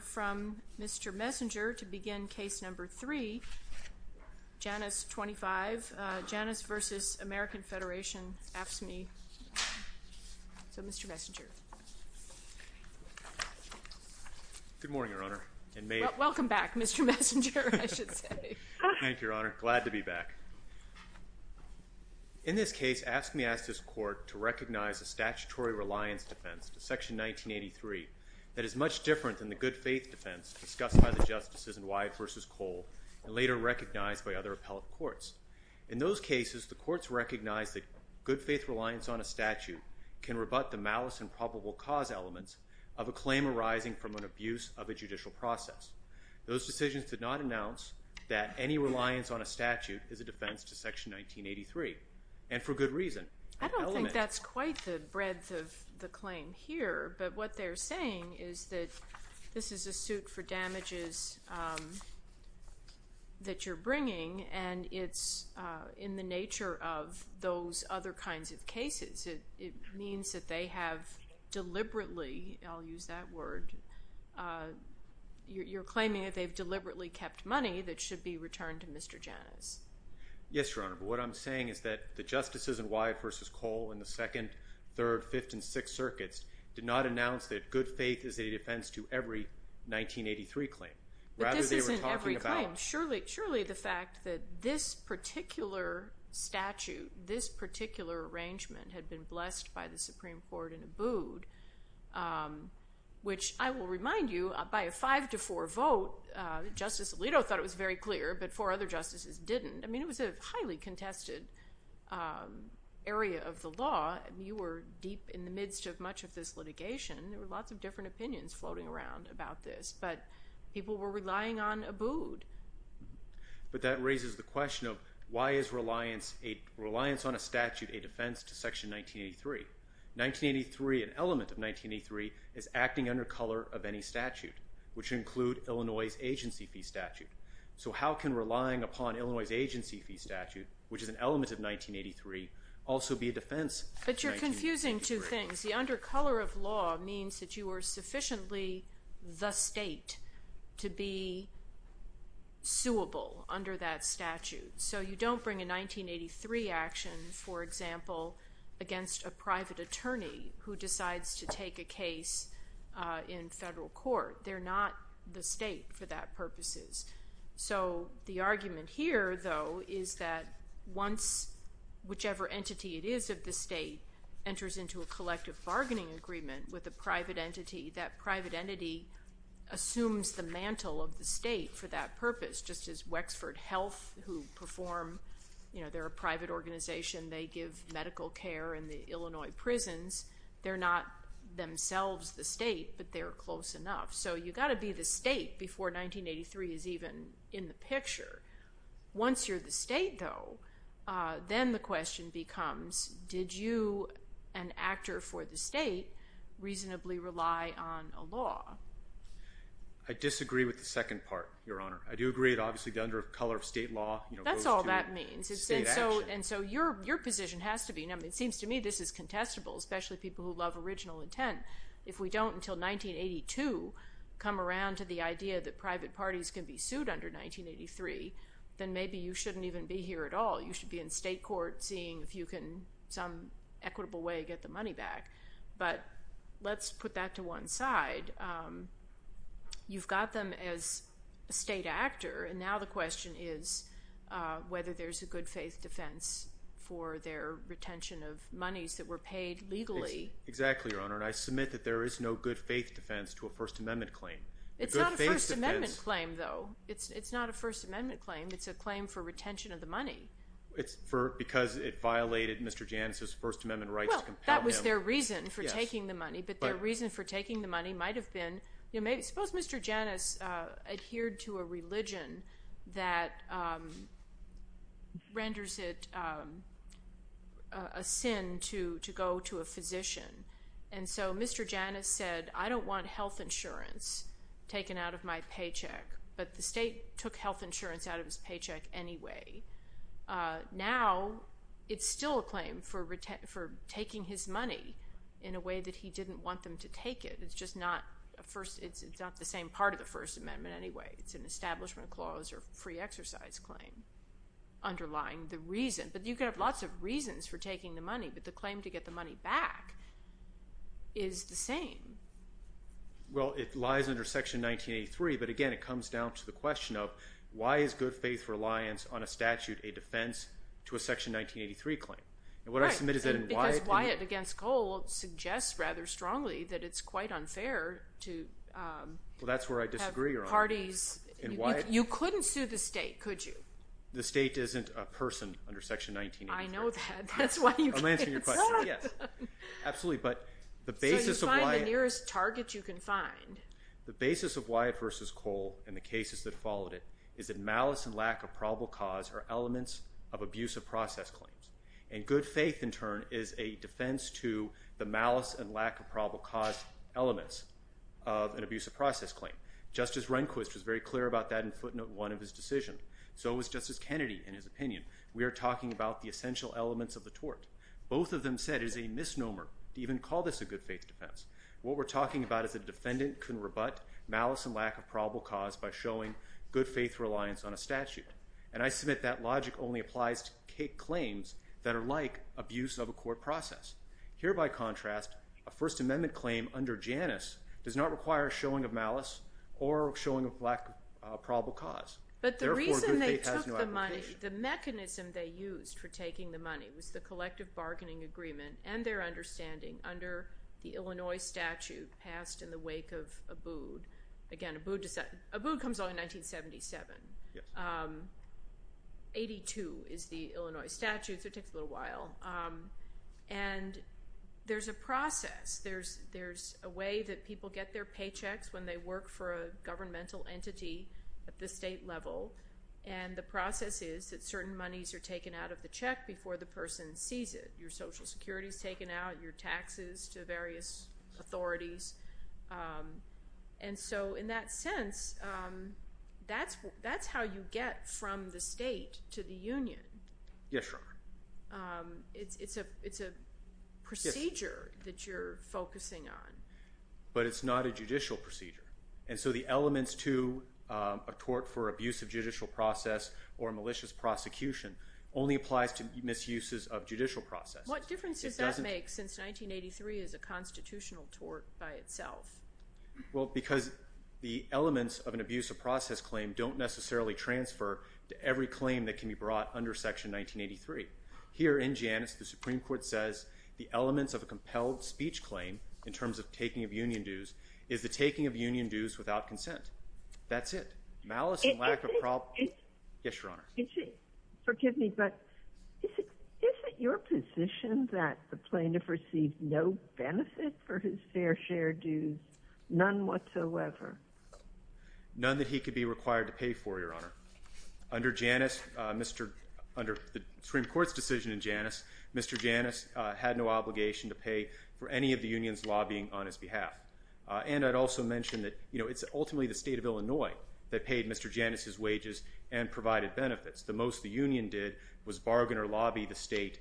from Mr. Messenger to begin case number 3, Janus 25. Janus v. American Federation, AFSCME. So, Mr. Messenger. Good morning, Your Honor. Welcome back, Mr. Messenger, I should say. Thank you, Your Honor. Glad to be back. In this case, AFSCME asked this court to recognize a statutory reliance defense to Section 1983 that is much different than the good faith defense discussed by the justices in Wyeth v. Cole and later recognized by other appellate courts. In those cases, the courts recognized that good faith reliance on a statute can rebut the malice and probable cause elements of a claim arising from an abuse of a judicial process. Those decisions did not announce that any reliance on a statute is a defense to Section 1983, and for good reason. I don't think that's quite the breadth of the claim here, but what they're saying is that this is a suit for damages that you're bringing and it's in the nature of those other kinds of cases. It means that they have deliberately, I'll use that word, you're claiming that they've deliberately kept money that should be returned to Mr. Janus. Yes, Your Honor, but what I'm saying is that the justices in Wyeth v. Cole in the 2nd, 3rd, 5th, and 6th circuits did not announce that good faith is a defense to every 1983 claim. But this isn't every claim. Surely the fact that this particular statute, this particular arrangement, had been blessed by the Supreme Court and abode, which I will remind you, by a 5-4 vote, Justice Alito thought it was very clear, but four other justices didn't. I mean it was a highly contested area of the law. You were deep in the midst of much of this litigation. There were lots of different opinions floating around about this, but people were relying on abode. But that raises the question of why is reliance on a statute a defense to Section 1983? 1983, an element of 1983, is acting under color of any statute, which include Illinois' agency fee statute. So how can relying upon Illinois' agency fee statute, which is an element of 1983, also be a defense to 1983? But you're confusing two things. The under color of law means that you are sufficiently the state to be suable under that statute. So you don't bring a 1983 action, for example, against a private attorney who decides to take a case in federal court. They're not the state for that purposes. So the argument here, though, is that once whichever entity it is of the state enters into a collective bargaining agreement with a private entity, that private entity assumes the mantle of the state for that purpose, just as Wexford Health, who perform, you know, they're a private organization. They give medical care in the Illinois prisons. They're not themselves the state, but they're close enough. So you've got to be the state before 1983 is even in the picture. Once you're the state, though, then the question becomes, did you, an actor for the state, reasonably rely on a law? I disagree with the second part, Your Honor. I do agree that obviously the under color of state law goes to state action. That's all that means. And so your position has to be, and it seems to me this is contestable, especially people who love original intent. If we don't until 1982 come around to the idea that private parties can be sued under 1983, then maybe you shouldn't even be here at all. You should be in state court seeing if you can, some equitable way, get the money back. But let's put that to one side. You've got them as a state actor, and now the question is whether there's a good faith defense for their retention of monies that were paid legally. Exactly, Your Honor, and I submit that there is no good faith defense to a First Amendment claim. It's not a First Amendment claim, though. It's not a First Amendment claim. It's a claim for retention of the money. Because it violated Mr. Janus's First Amendment rights to compel him. Well, that was their reason for taking the money, but their reason for taking the money might have been, suppose Mr. Janus adhered to a religion that renders it a sin to go to a physician. And so Mr. Janus said, I don't want health insurance taken out of my paycheck. But the state took health insurance out of his paycheck anyway. Now it's still a claim for taking his money in a way that he didn't want them to take it. It's just not the same part of the First Amendment anyway. It's an establishment clause or free exercise claim underlying the reason. But you could have lots of reasons for taking the money, but the claim to get the money back is the same. Well, it lies under Section 1983, but again, it comes down to the question of why is good faith reliance on a statute a defense to a Section 1983 claim? Because Wyatt v. Cole suggests rather strongly that it's quite unfair to have parties. You couldn't sue the state, could you? The state isn't a person under Section 1983. I know that. That's why you can't sue it. I'm answering your question. Yes. Absolutely. So you find the nearest target you can find. The basis of Wyatt v. Cole and the cases that followed it is that malice and lack of probable cause are elements of abuse of process claims. And good faith, in turn, is a defense to the malice and lack of probable cause elements of an abuse of process claim. Justice Rehnquist was very clear about that in Footnote 1 of his decision. So was Justice Kennedy in his opinion. We are talking about the essential elements of the tort. Both of them said it is a misnomer to even call this a good faith defense. What we're talking about is a defendant can rebut malice and lack of probable cause by showing good faith reliance on a statute. And I submit that logic only applies to claims that are like abuse of a court process. Here, by contrast, a First Amendment claim under Janus does not require showing of malice or showing of lack of probable cause. But the reason they took the money, the mechanism they used for taking the money was the collective bargaining agreement and their understanding under the Illinois statute passed in the wake of Abood. Again, Abood comes out in 1977. 82 is the Illinois statute, so it takes a little while. And there's a process. There's a way that people get their paychecks when they work for a governmental entity at the state level, and the process is that certain monies are taken out of the check before the person sees it. Your Social Security is taken out, your taxes to various authorities. And so in that sense, that's how you get from the state to the union. Yes, Your Honor. It's a procedure that you're focusing on. But it's not a judicial procedure. And so the elements to a tort for abuse of judicial process or malicious prosecution only applies to misuses of judicial process. What difference does that make since 1983 is a constitutional tort by itself? Well, because the elements of an abuse of process claim don't necessarily transfer to every claim that can be brought under Section 1983. Here in Janus, the Supreme Court says the elements of a compelled speech claim in terms of taking of union dues is the taking of union dues without consent. That's it. Malice and lack of probable cause. Yes, Your Honor. Forgive me, but is it your position that the plaintiff received no benefit for his fair share dues, none whatsoever? None that he could be required to pay for, Your Honor. Under the Supreme Court's decision in Janus, Mr. Janus had no obligation to pay for any of the union's lobbying on his behalf. And I'd also mention that, you know, it's ultimately the state of Illinois that paid Mr. Janus's wages and provided benefits. The most the union did was bargain or lobby the state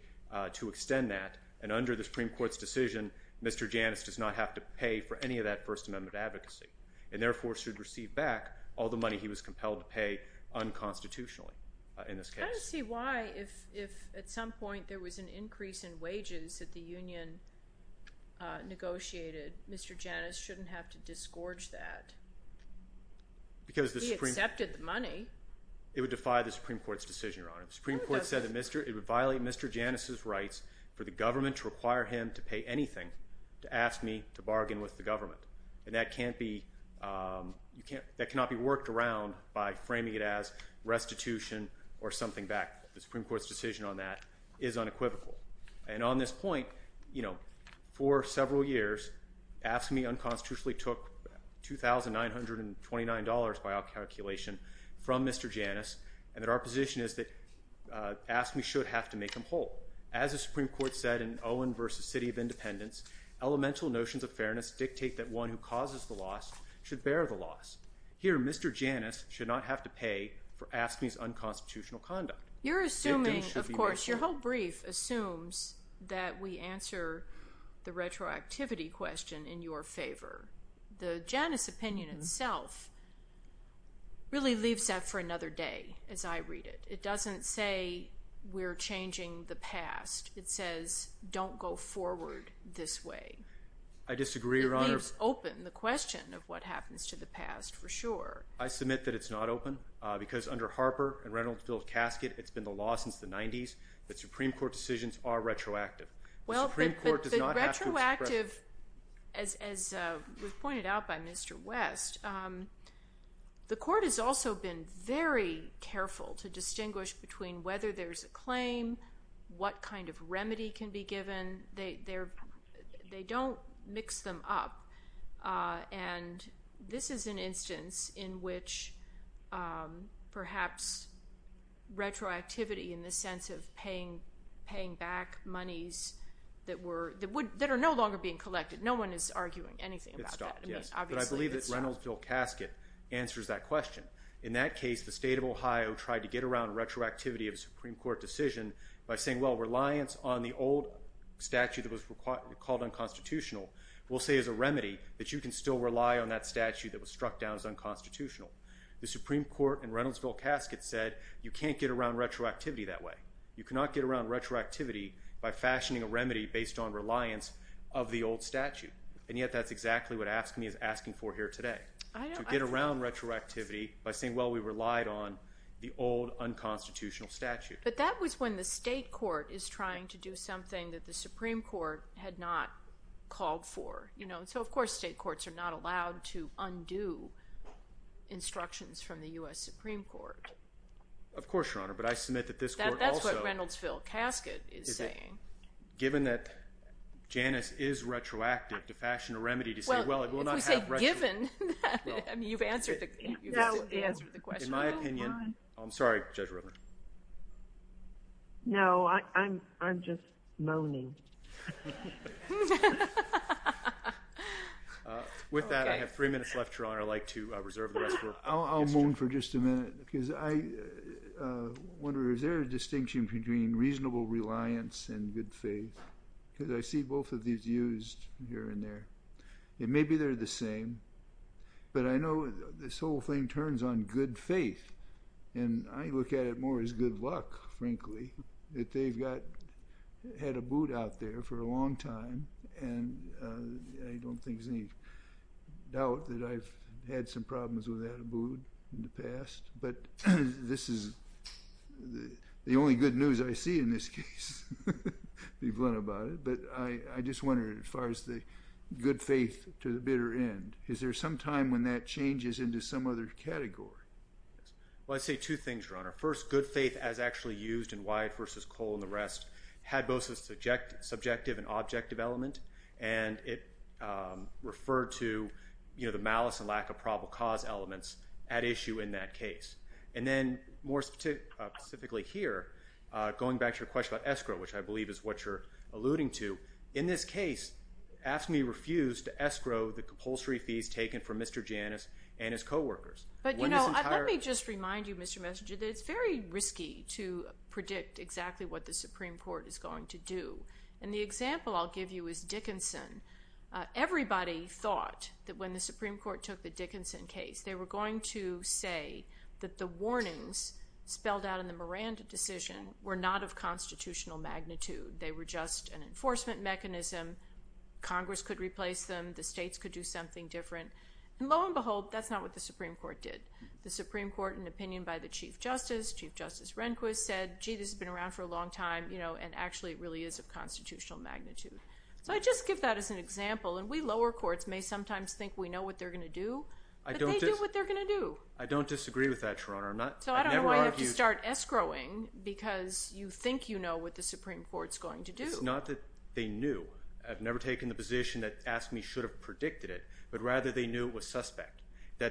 to extend that. And under the Supreme Court's decision, Mr. Janus does not have to pay for any of that First Amendment advocacy and therefore should receive back all the money he was compelled to pay unconstitutionally in this case. I don't see why if at some point there was an increase in wages that the union negotiated, Mr. Janus shouldn't have to disgorge that. He accepted the money. It would defy the Supreme Court's decision, Your Honor. The Supreme Court said it would violate Mr. Janus's rights for the government to require him to pay anything to ask me to bargain with the government. And that cannot be worked around by framing it as restitution or something back. The Supreme Court's decision on that is unequivocal. And on this point, you know, for several years, asking me unconstitutionally took $2,929 by our calculation from Mr. Janus and that our position is that AFSCME should have to make him whole. As the Supreme Court said in Owen v. City of Independence, elemental notions of fairness dictate that one who causes the loss should bear the loss. Here, Mr. Janus should not have to pay for AFSCME's unconstitutional conduct. You're assuming, of course, your whole brief assumes that we answer the retroactivity question in your favor. The Janus opinion itself really leaves that for another day as I read it. It doesn't say we're changing the past. It says don't go forward this way. I disagree, Your Honor. It leaves open the question of what happens to the past for sure. I submit that it's not open because under Harper and Reynolds v. Casket, it's been the law since the 90s that Supreme Court decisions are retroactive. Well, the retroactive, as was pointed out by Mr. West, the court has also been very careful to distinguish between whether there's a claim, what kind of remedy can be given. They don't mix them up. This is an instance in which perhaps retroactivity in the sense of paying back monies that are no longer being collected. No one is arguing anything about that. I believe that Reynolds v. Casket answers that question. In that case, the state of Ohio tried to get around retroactivity of a Supreme Court decision by saying, well, reliance on the old statute that was called unconstitutional will say is a remedy that you can still rely on that statute that was struck down as unconstitutional. The Supreme Court in Reynolds v. Casket said you can't get around retroactivity that way. You cannot get around retroactivity by fashioning a remedy based on reliance of the old statute. And yet that's exactly what AFSCME is asking for here today, to get around retroactivity by saying, well, we relied on the old unconstitutional statute. But that was when the state court is trying to do something that the Supreme Court had not called for. So, of course, state courts are not allowed to undo instructions from the U.S. Supreme Court. Of course, Your Honor, but I submit that this court also— That's what Reynolds v. Casket is saying. Given that Janus is retroactive to fashion a remedy to say, well, it will not have retro— Well, if we say given, you've answered the question. In my opinion—I'm sorry, Judge Rubin. No, I'm just moaning. With that, I have three minutes left, Your Honor. I'd like to reserve the rest of our time. I'll moan for just a minute because I wonder, is there a distinction between reasonable reliance and good faith? Because I see both of these used here and there. Maybe they're the same, but I know this whole thing turns on good faith. And I look at it more as good luck, frankly, that they've had a boot out there for a long time. And I don't think there's any doubt that I've had some problems with that boot in the past. But this is the only good news I see in this case, to be blunt about it. But I just wonder, as far as the good faith to the bitter end, is there some time when that changes into some other category? Well, I'd say two things, Your Honor. First, good faith as actually used in Wyatt v. Cole and the rest had both a subjective and objective element. And it referred to the malice and lack of probable cause elements at issue in that case. And then more specifically here, going back to your question about escrow, which I believe is what you're alluding to, in this case AFSCME refused to escrow the compulsory fees taken from Mr. Janus and his coworkers. But, you know, let me just remind you, Mr. Messenger, that it's very risky to predict exactly what the Supreme Court is going to do. And the example I'll give you is Dickinson. Everybody thought that when the Supreme Court took the Dickinson case, they were going to say that the warnings spelled out in the Miranda decision were not of constitutional magnitude. They were just an enforcement mechanism. Congress could replace them. The states could do something different. And lo and behold, that's not what the Supreme Court did. The Supreme Court, in opinion by the Chief Justice, Chief Justice Rehnquist, said, gee, this has been around for a long time, you know, and actually it really is of constitutional magnitude. So I just give that as an example. And we lower courts may sometimes think we know what they're going to do, but they do what they're going to do. I don't disagree with that, Your Honor. So I don't know why you have to start escrowing because you think you know what the Supreme Court's going to do. It's not that they knew. I've never taken the position that AFSCME should have predicted it, but rather they knew it was suspect. They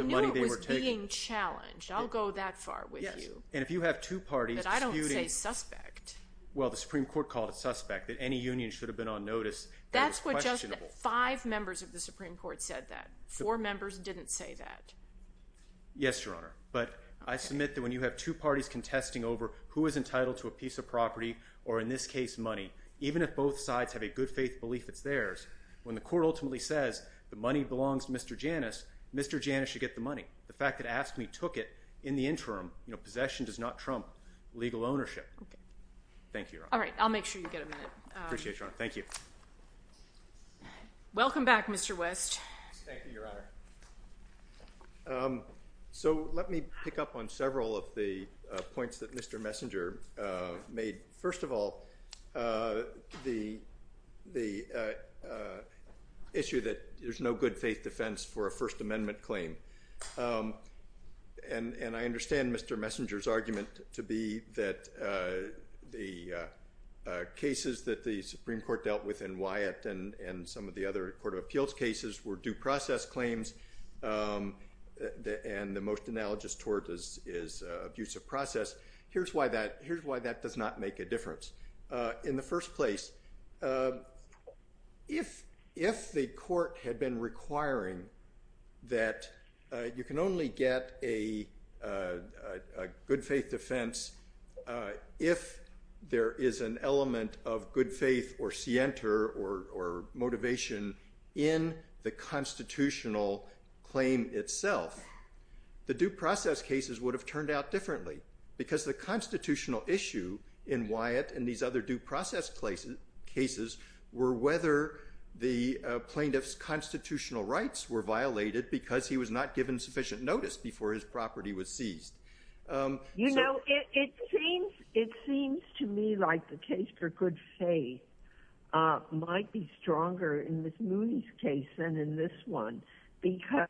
knew it was being challenged. I'll go that far with you. Yes. And if you have two parties disputing… But I don't say suspect. Well, the Supreme Court called it suspect, that any union should have been on notice. That's what just five members of the Supreme Court said that. Four members didn't say that. Yes, Your Honor. But I submit that when you have two parties contesting over who is entitled to a piece of property, or in this case money, even if both sides have a good faith belief it's theirs, when the court ultimately says the money belongs to Mr. Janus, Mr. Janus should get the money. The fact that AFSCME took it in the interim, you know, possession does not trump legal ownership. Okay. Thank you, Your Honor. All right. I'll make sure you get a minute. Appreciate it, Your Honor. Thank you. Welcome back, Mr. West. Thank you, Your Honor. So let me pick up on several of the points that Mr. Messenger made. First of all, the issue that there's no good faith defense for a First Amendment claim. And I understand Mr. Messenger's argument to be that the cases that the Supreme Court dealt with in Wyatt and some of the other court of appeals cases were due process claims, and the most analogous to it is abusive process. Here's why that does not make a difference. In the first place, if the court had been requiring that you can only get a good faith defense if there is an element of good faith or scienter or motivation in the constitutional claim itself, the due process cases would have turned out differently because the constitutional issue in Wyatt and these other due process cases were whether the plaintiff's constitutional rights were violated because he was not given sufficient notice before his property was seized. You know, it seems to me like the case for good faith might be stronger in Ms. Moody's case than in this one because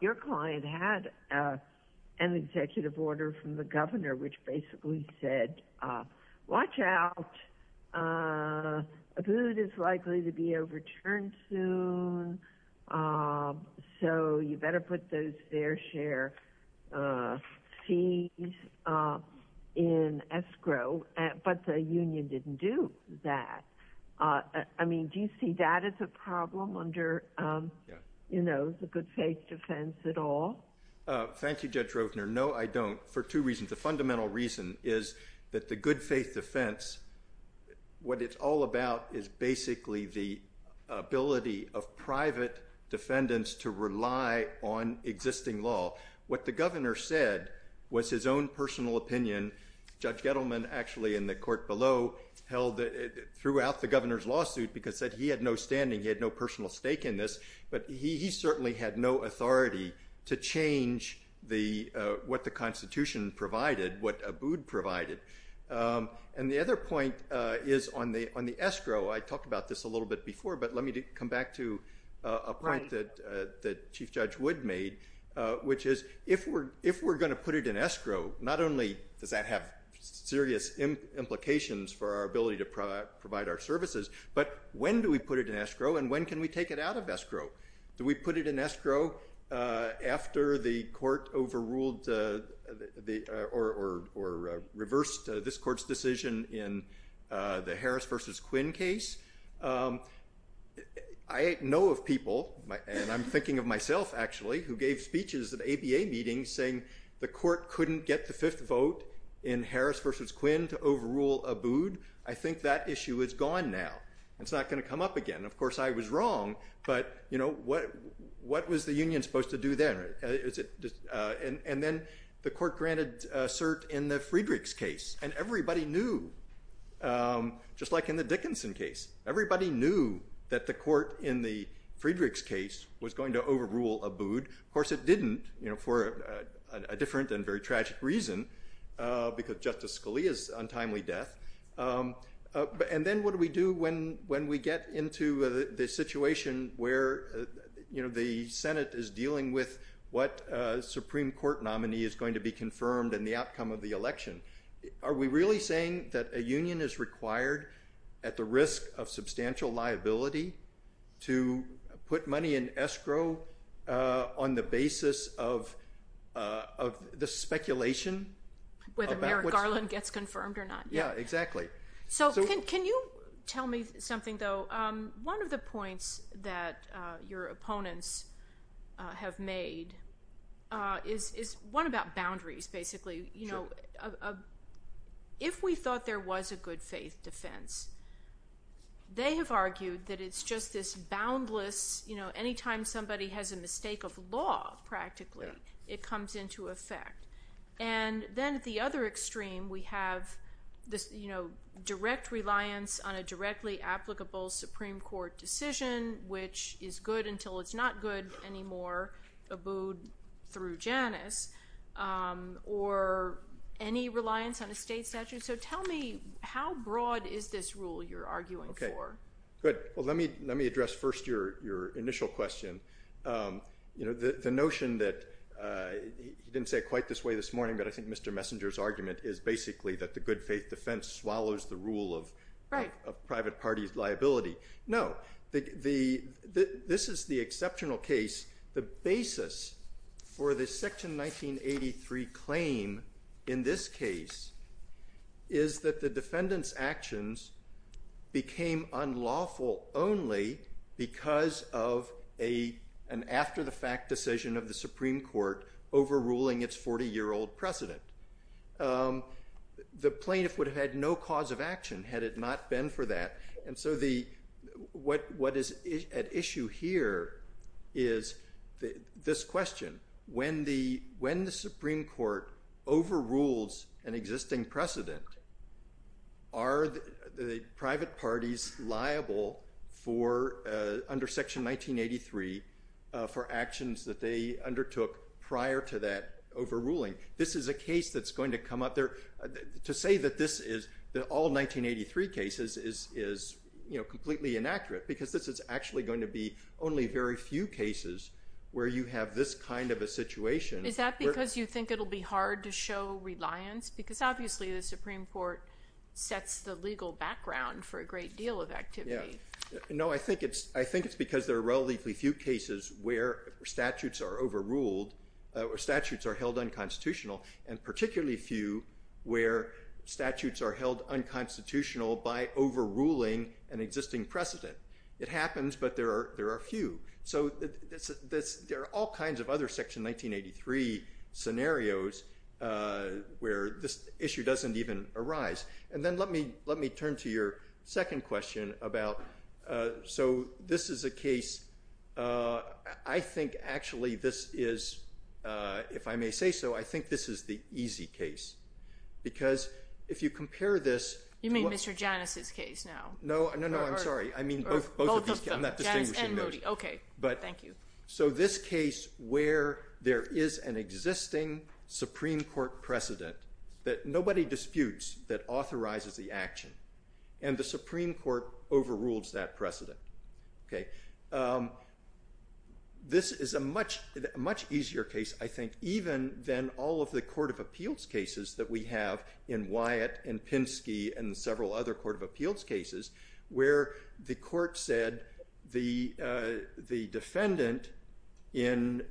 your client had an executive order from the governor which basically said, watch out, a boot is likely to be overturned soon, so you better put those fair share fees in escrow, but the union didn't do that. I mean, do you see that as a problem under the good faith defense at all? Thank you, Judge Rovner. No, I don't, for two reasons. The fundamental reason is that the good faith defense, what it's all about is basically the ability of private defendants to rely on existing law. What the governor said was his own personal opinion. Judge Gettleman actually in the court below held throughout the governor's lawsuit because he had no standing, he had no personal stake in this, but he certainly had no authority to change what the Constitution provided, what Abood provided. And the other point is on the escrow, I talked about this a little bit before, but let me come back to a point that Chief Judge Wood made, which is if we're going to put it in escrow, not only does that have serious implications for our ability to provide our services, but when do we put it in escrow and when can we take it out of escrow? Do we put it in escrow after the court overruled or reversed this court's decision in the Harris versus Quinn case? I know of people, and I'm thinking of myself actually, who gave speeches at ABA meetings saying the court couldn't get the fifth vote in Harris versus Quinn to overrule Abood. I think that issue is gone now. It's not going to come up again. Of course, I was wrong, but what was the union supposed to do then? And then the court granted cert in the Friedrichs case, and everybody knew, just like in the Dickinson case. Everybody knew that the court in the Friedrichs case was going to overrule Abood. Of course, it didn't for a different and very tragic reason, because Justice Scalia's untimely death. And then what do we do when we get into the situation where the Senate is dealing with what Supreme Court nominee is going to be confirmed in the outcome of the election? Are we really saying that a union is required at the risk of substantial liability to put money in escrow on the basis of the speculation? Whether Merrick Garland gets confirmed or not. Yeah, exactly. Can you tell me something, though? One of the points that your opponents have made is one about boundaries, basically. If we thought there was a good faith defense, they have argued that it's just this boundless – anytime somebody has a mistake of law, practically, it comes into effect. And then at the other extreme, we have this direct reliance on a directly applicable Supreme Court decision, which is good until it's not good anymore, Abood through Janus. Or any reliance on a state statute. So tell me, how broad is this rule you're arguing for? Good. Well, let me address first your initial question. The notion that – you didn't say it quite this way this morning, but I think Mr. Messenger's argument is basically that the good faith defense swallows the rule of private parties' liability. No. This is the exceptional case. The basis for the Section 1983 claim in this case is that the defendant's actions became unlawful only because of an after-the-fact decision of the Supreme Court overruling its 40-year-old precedent. The plaintiff would have had no cause of action had it not been for that. And so what is at issue here is this question. When the Supreme Court overrules an existing precedent, are the private parties liable under Section 1983 for actions that they undertook prior to that overruling? This is a case that's going to come up. To say that all 1983 cases is completely inaccurate because this is actually going to be only very few cases where you have this kind of a situation. Is that because you think it'll be hard to show reliance? Because obviously the Supreme Court sets the legal background for a great deal of activity. No, I think it's because there are relatively few cases where statutes are held unconstitutional, and particularly few where statutes are held unconstitutional by overruling an existing precedent. It happens, but there are few. So there are all kinds of other Section 1983 scenarios where this issue doesn't even arise. And then let me turn to your second question. So this is a case, I think actually this is, if I may say so, I think this is the easy case. Because if you compare this... You mean Mr. Janus' case now? No, no, no, I'm sorry, I mean both of these cases. Janus and Moody, okay, thank you. So this case where there is an existing Supreme Court precedent that nobody disputes that authorizes the action, and the Supreme Court overrules that precedent. This is a much easier case, I think, even than all of the Court of Appeals cases that we have in Wyatt and Pinsky and several other Court of Appeals cases, where the court said the defendant, in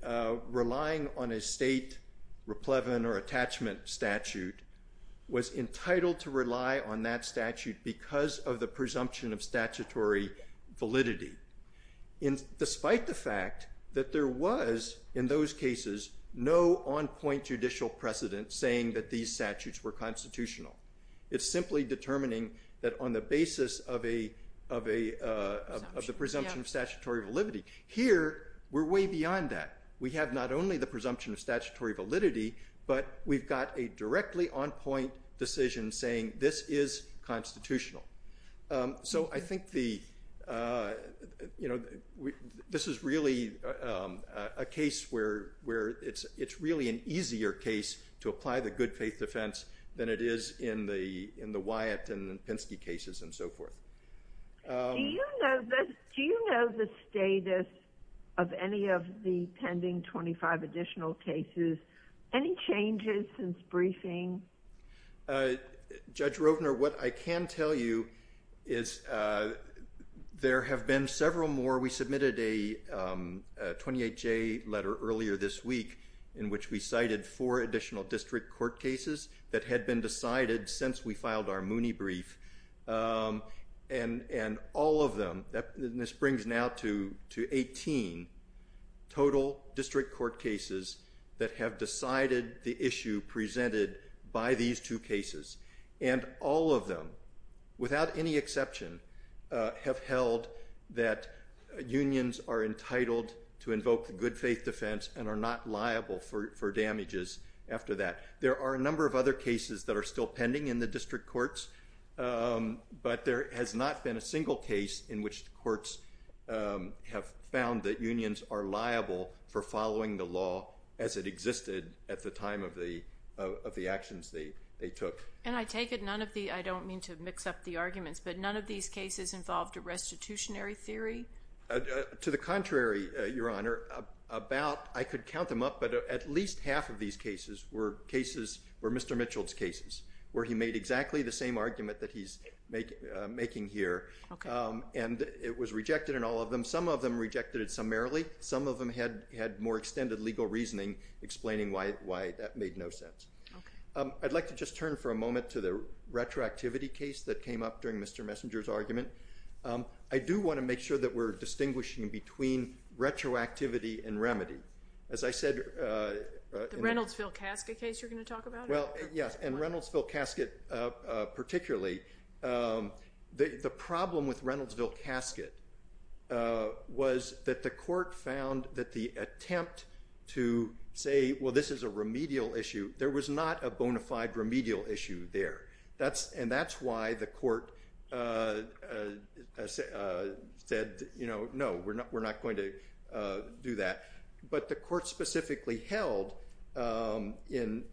relying on a state replevin or attachment statute, was entitled to rely on that statute because of the presumption of statutory validity. Despite the fact that there was, in those cases, no on-point judicial precedent saying that these statutes were constitutional. It's simply determining that on the basis of the presumption of statutory validity. Here, we're way beyond that. We have not only the presumption of statutory validity, but we've got a directly on-point decision saying this is constitutional. So I think this is really a case where it's really an easier case to apply the good faith defense than it is in the Wyatt and Pinsky cases and so forth. Do you know the status of any of the pending 25 additional cases? Any changes since briefing? Judge Rovner, what I can tell you is there have been several more. We submitted a 28-J letter earlier this week in which we cited four additional district court cases that had been decided since we filed our Mooney brief. And all of them, and this brings now to 18 total district court cases that have decided the issue presented by these two cases. And all of them, without any exception, have held that unions are entitled to invoke the good faith defense and are not liable for damages after that. There are a number of other cases that are still pending in the district courts, but there has not been a single case in which the courts have found that unions are liable for following the law as it existed at the time of the actions they took. And I take it none of the – I don't mean to mix up the arguments, but none of these cases involved a restitutionary theory? To the contrary, Your Honor. About – I could count them up, but at least half of these cases were cases – were Mr. Mitchell's cases where he made exactly the same argument that he's making here. Okay. And it was rejected in all of them. Some of them rejected it summarily. Some of them had more extended legal reasoning explaining why that made no sense. Okay. I'd like to just turn for a moment to the retroactivity case that came up during Mr. Messenger's argument. I do want to make sure that we're distinguishing between retroactivity and remedy. As I said – The Reynoldsville casket case you're going to talk about? Well, yes. And Reynoldsville casket particularly. The problem with Reynoldsville casket was that the court found that the attempt to say, well, this is a remedial issue, there was not a bona fide remedial issue there. And that's why the court said, you know, no, we're not going to do that. But the court specifically held in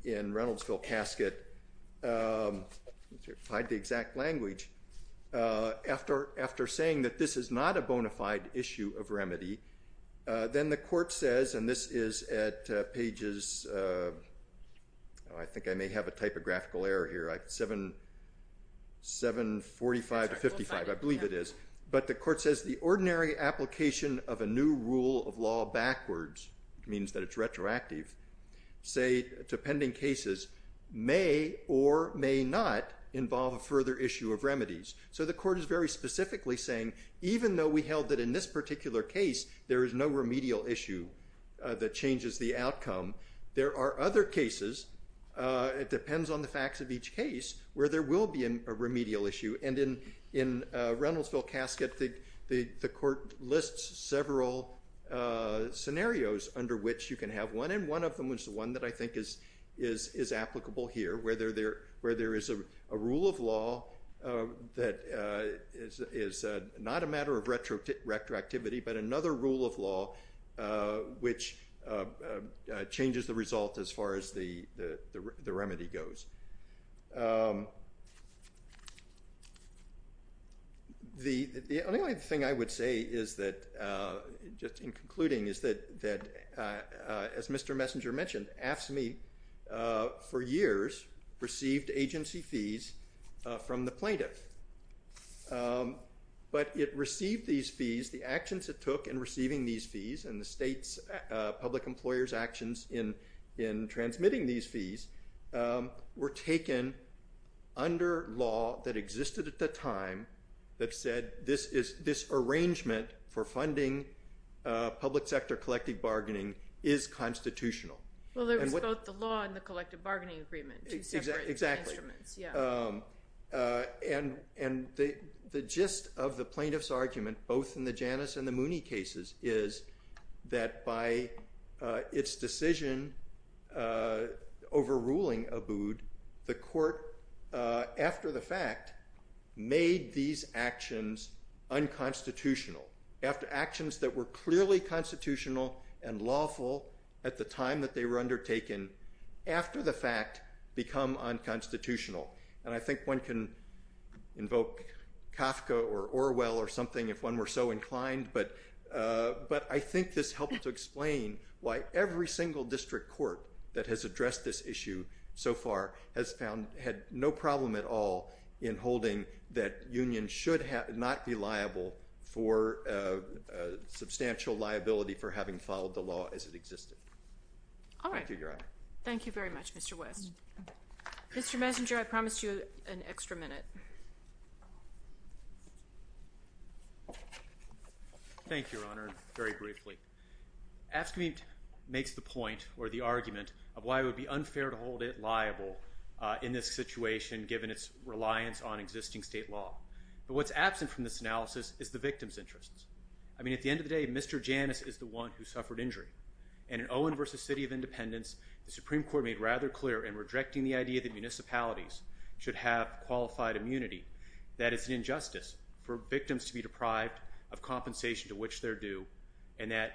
Reynoldsville casket – let me see if I have the exact language – after saying that this is not a bona fide issue of remedy, then the court says, and this is at pages – I think I may have a typographical error here, 745 to 55, I believe it is. But the court says the ordinary application of a new rule of law backwards, which means that it's retroactive, say to pending cases may or may not involve a further issue of remedies. So the court is very specifically saying even though we held that in this particular case there is no remedial issue that changes the outcome, there are other cases – it depends on the facts of each case – where there will be a remedial issue. And in Reynoldsville casket, the court lists several scenarios under which you can have one, and one of them is the one that I think is applicable here, where there is a rule of law that is not a matter of retroactivity, but another rule of law which changes the result as far as the remedy goes. The only other thing I would say is that – just in concluding – is that, as Mr. Messenger mentioned, AFSCME for years received agency fees from the plaintiff. But it received these fees – the actions it took in receiving these fees and the state's public employer's actions in transmitting these fees were taken under law that existed at the time that said this arrangement for funding public sector collective bargaining is constitutional. Well, there was both the law and the collective bargaining agreement. Exactly. And the gist of the plaintiff's argument, both in the Janus and the Mooney cases, is that by its decision over ruling Abood, the court, after the fact, made these actions unconstitutional. After actions that were clearly constitutional and lawful at the time that they were undertaken, after the fact, become unconstitutional. And I think one can invoke Kafka or Orwell or something if one were so inclined, but I think this helps to explain why every single district court that has addressed this issue so far has found – had no problem at all in holding that unions should not be liable for – substantial liability for having followed the law as it existed. All right. Thank you, Your Honor. Thank you very much, Mr. West. Mr. Messenger, I promised you an extra minute. Thank you, Your Honor, very briefly. AFSCME makes the point or the argument of why it would be unfair to hold it liable in this situation given its reliance on existing state law. But what's absent from this analysis is the victim's interests. I mean, at the end of the day, Mr. Janus is the one who suffered injury. And in Owen v. City of Independence, the Supreme Court made rather clear in rejecting the idea that municipalities should have qualified immunity that it's an injustice for victims to be deprived of compensation to which they're due and that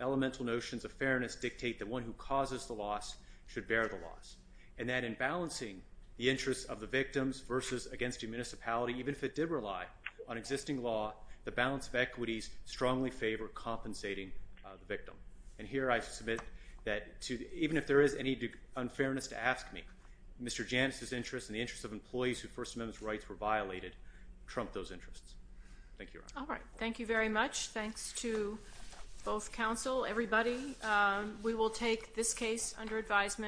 elemental notions of fairness dictate that one who causes the loss should bear the loss. And that in balancing the interests of the victims versus against a municipality, even if it did rely on existing law, the balance of equities strongly favor compensating the victim. And here I submit that even if there is any unfairness to AFSCME, Mr. Janus's interests and the interests of employees whose First Amendment rights were violated trump those interests. Thank you, Your Honor. All right. Thank you very much. Thanks to both counsel, everybody. We will take this case under advisement.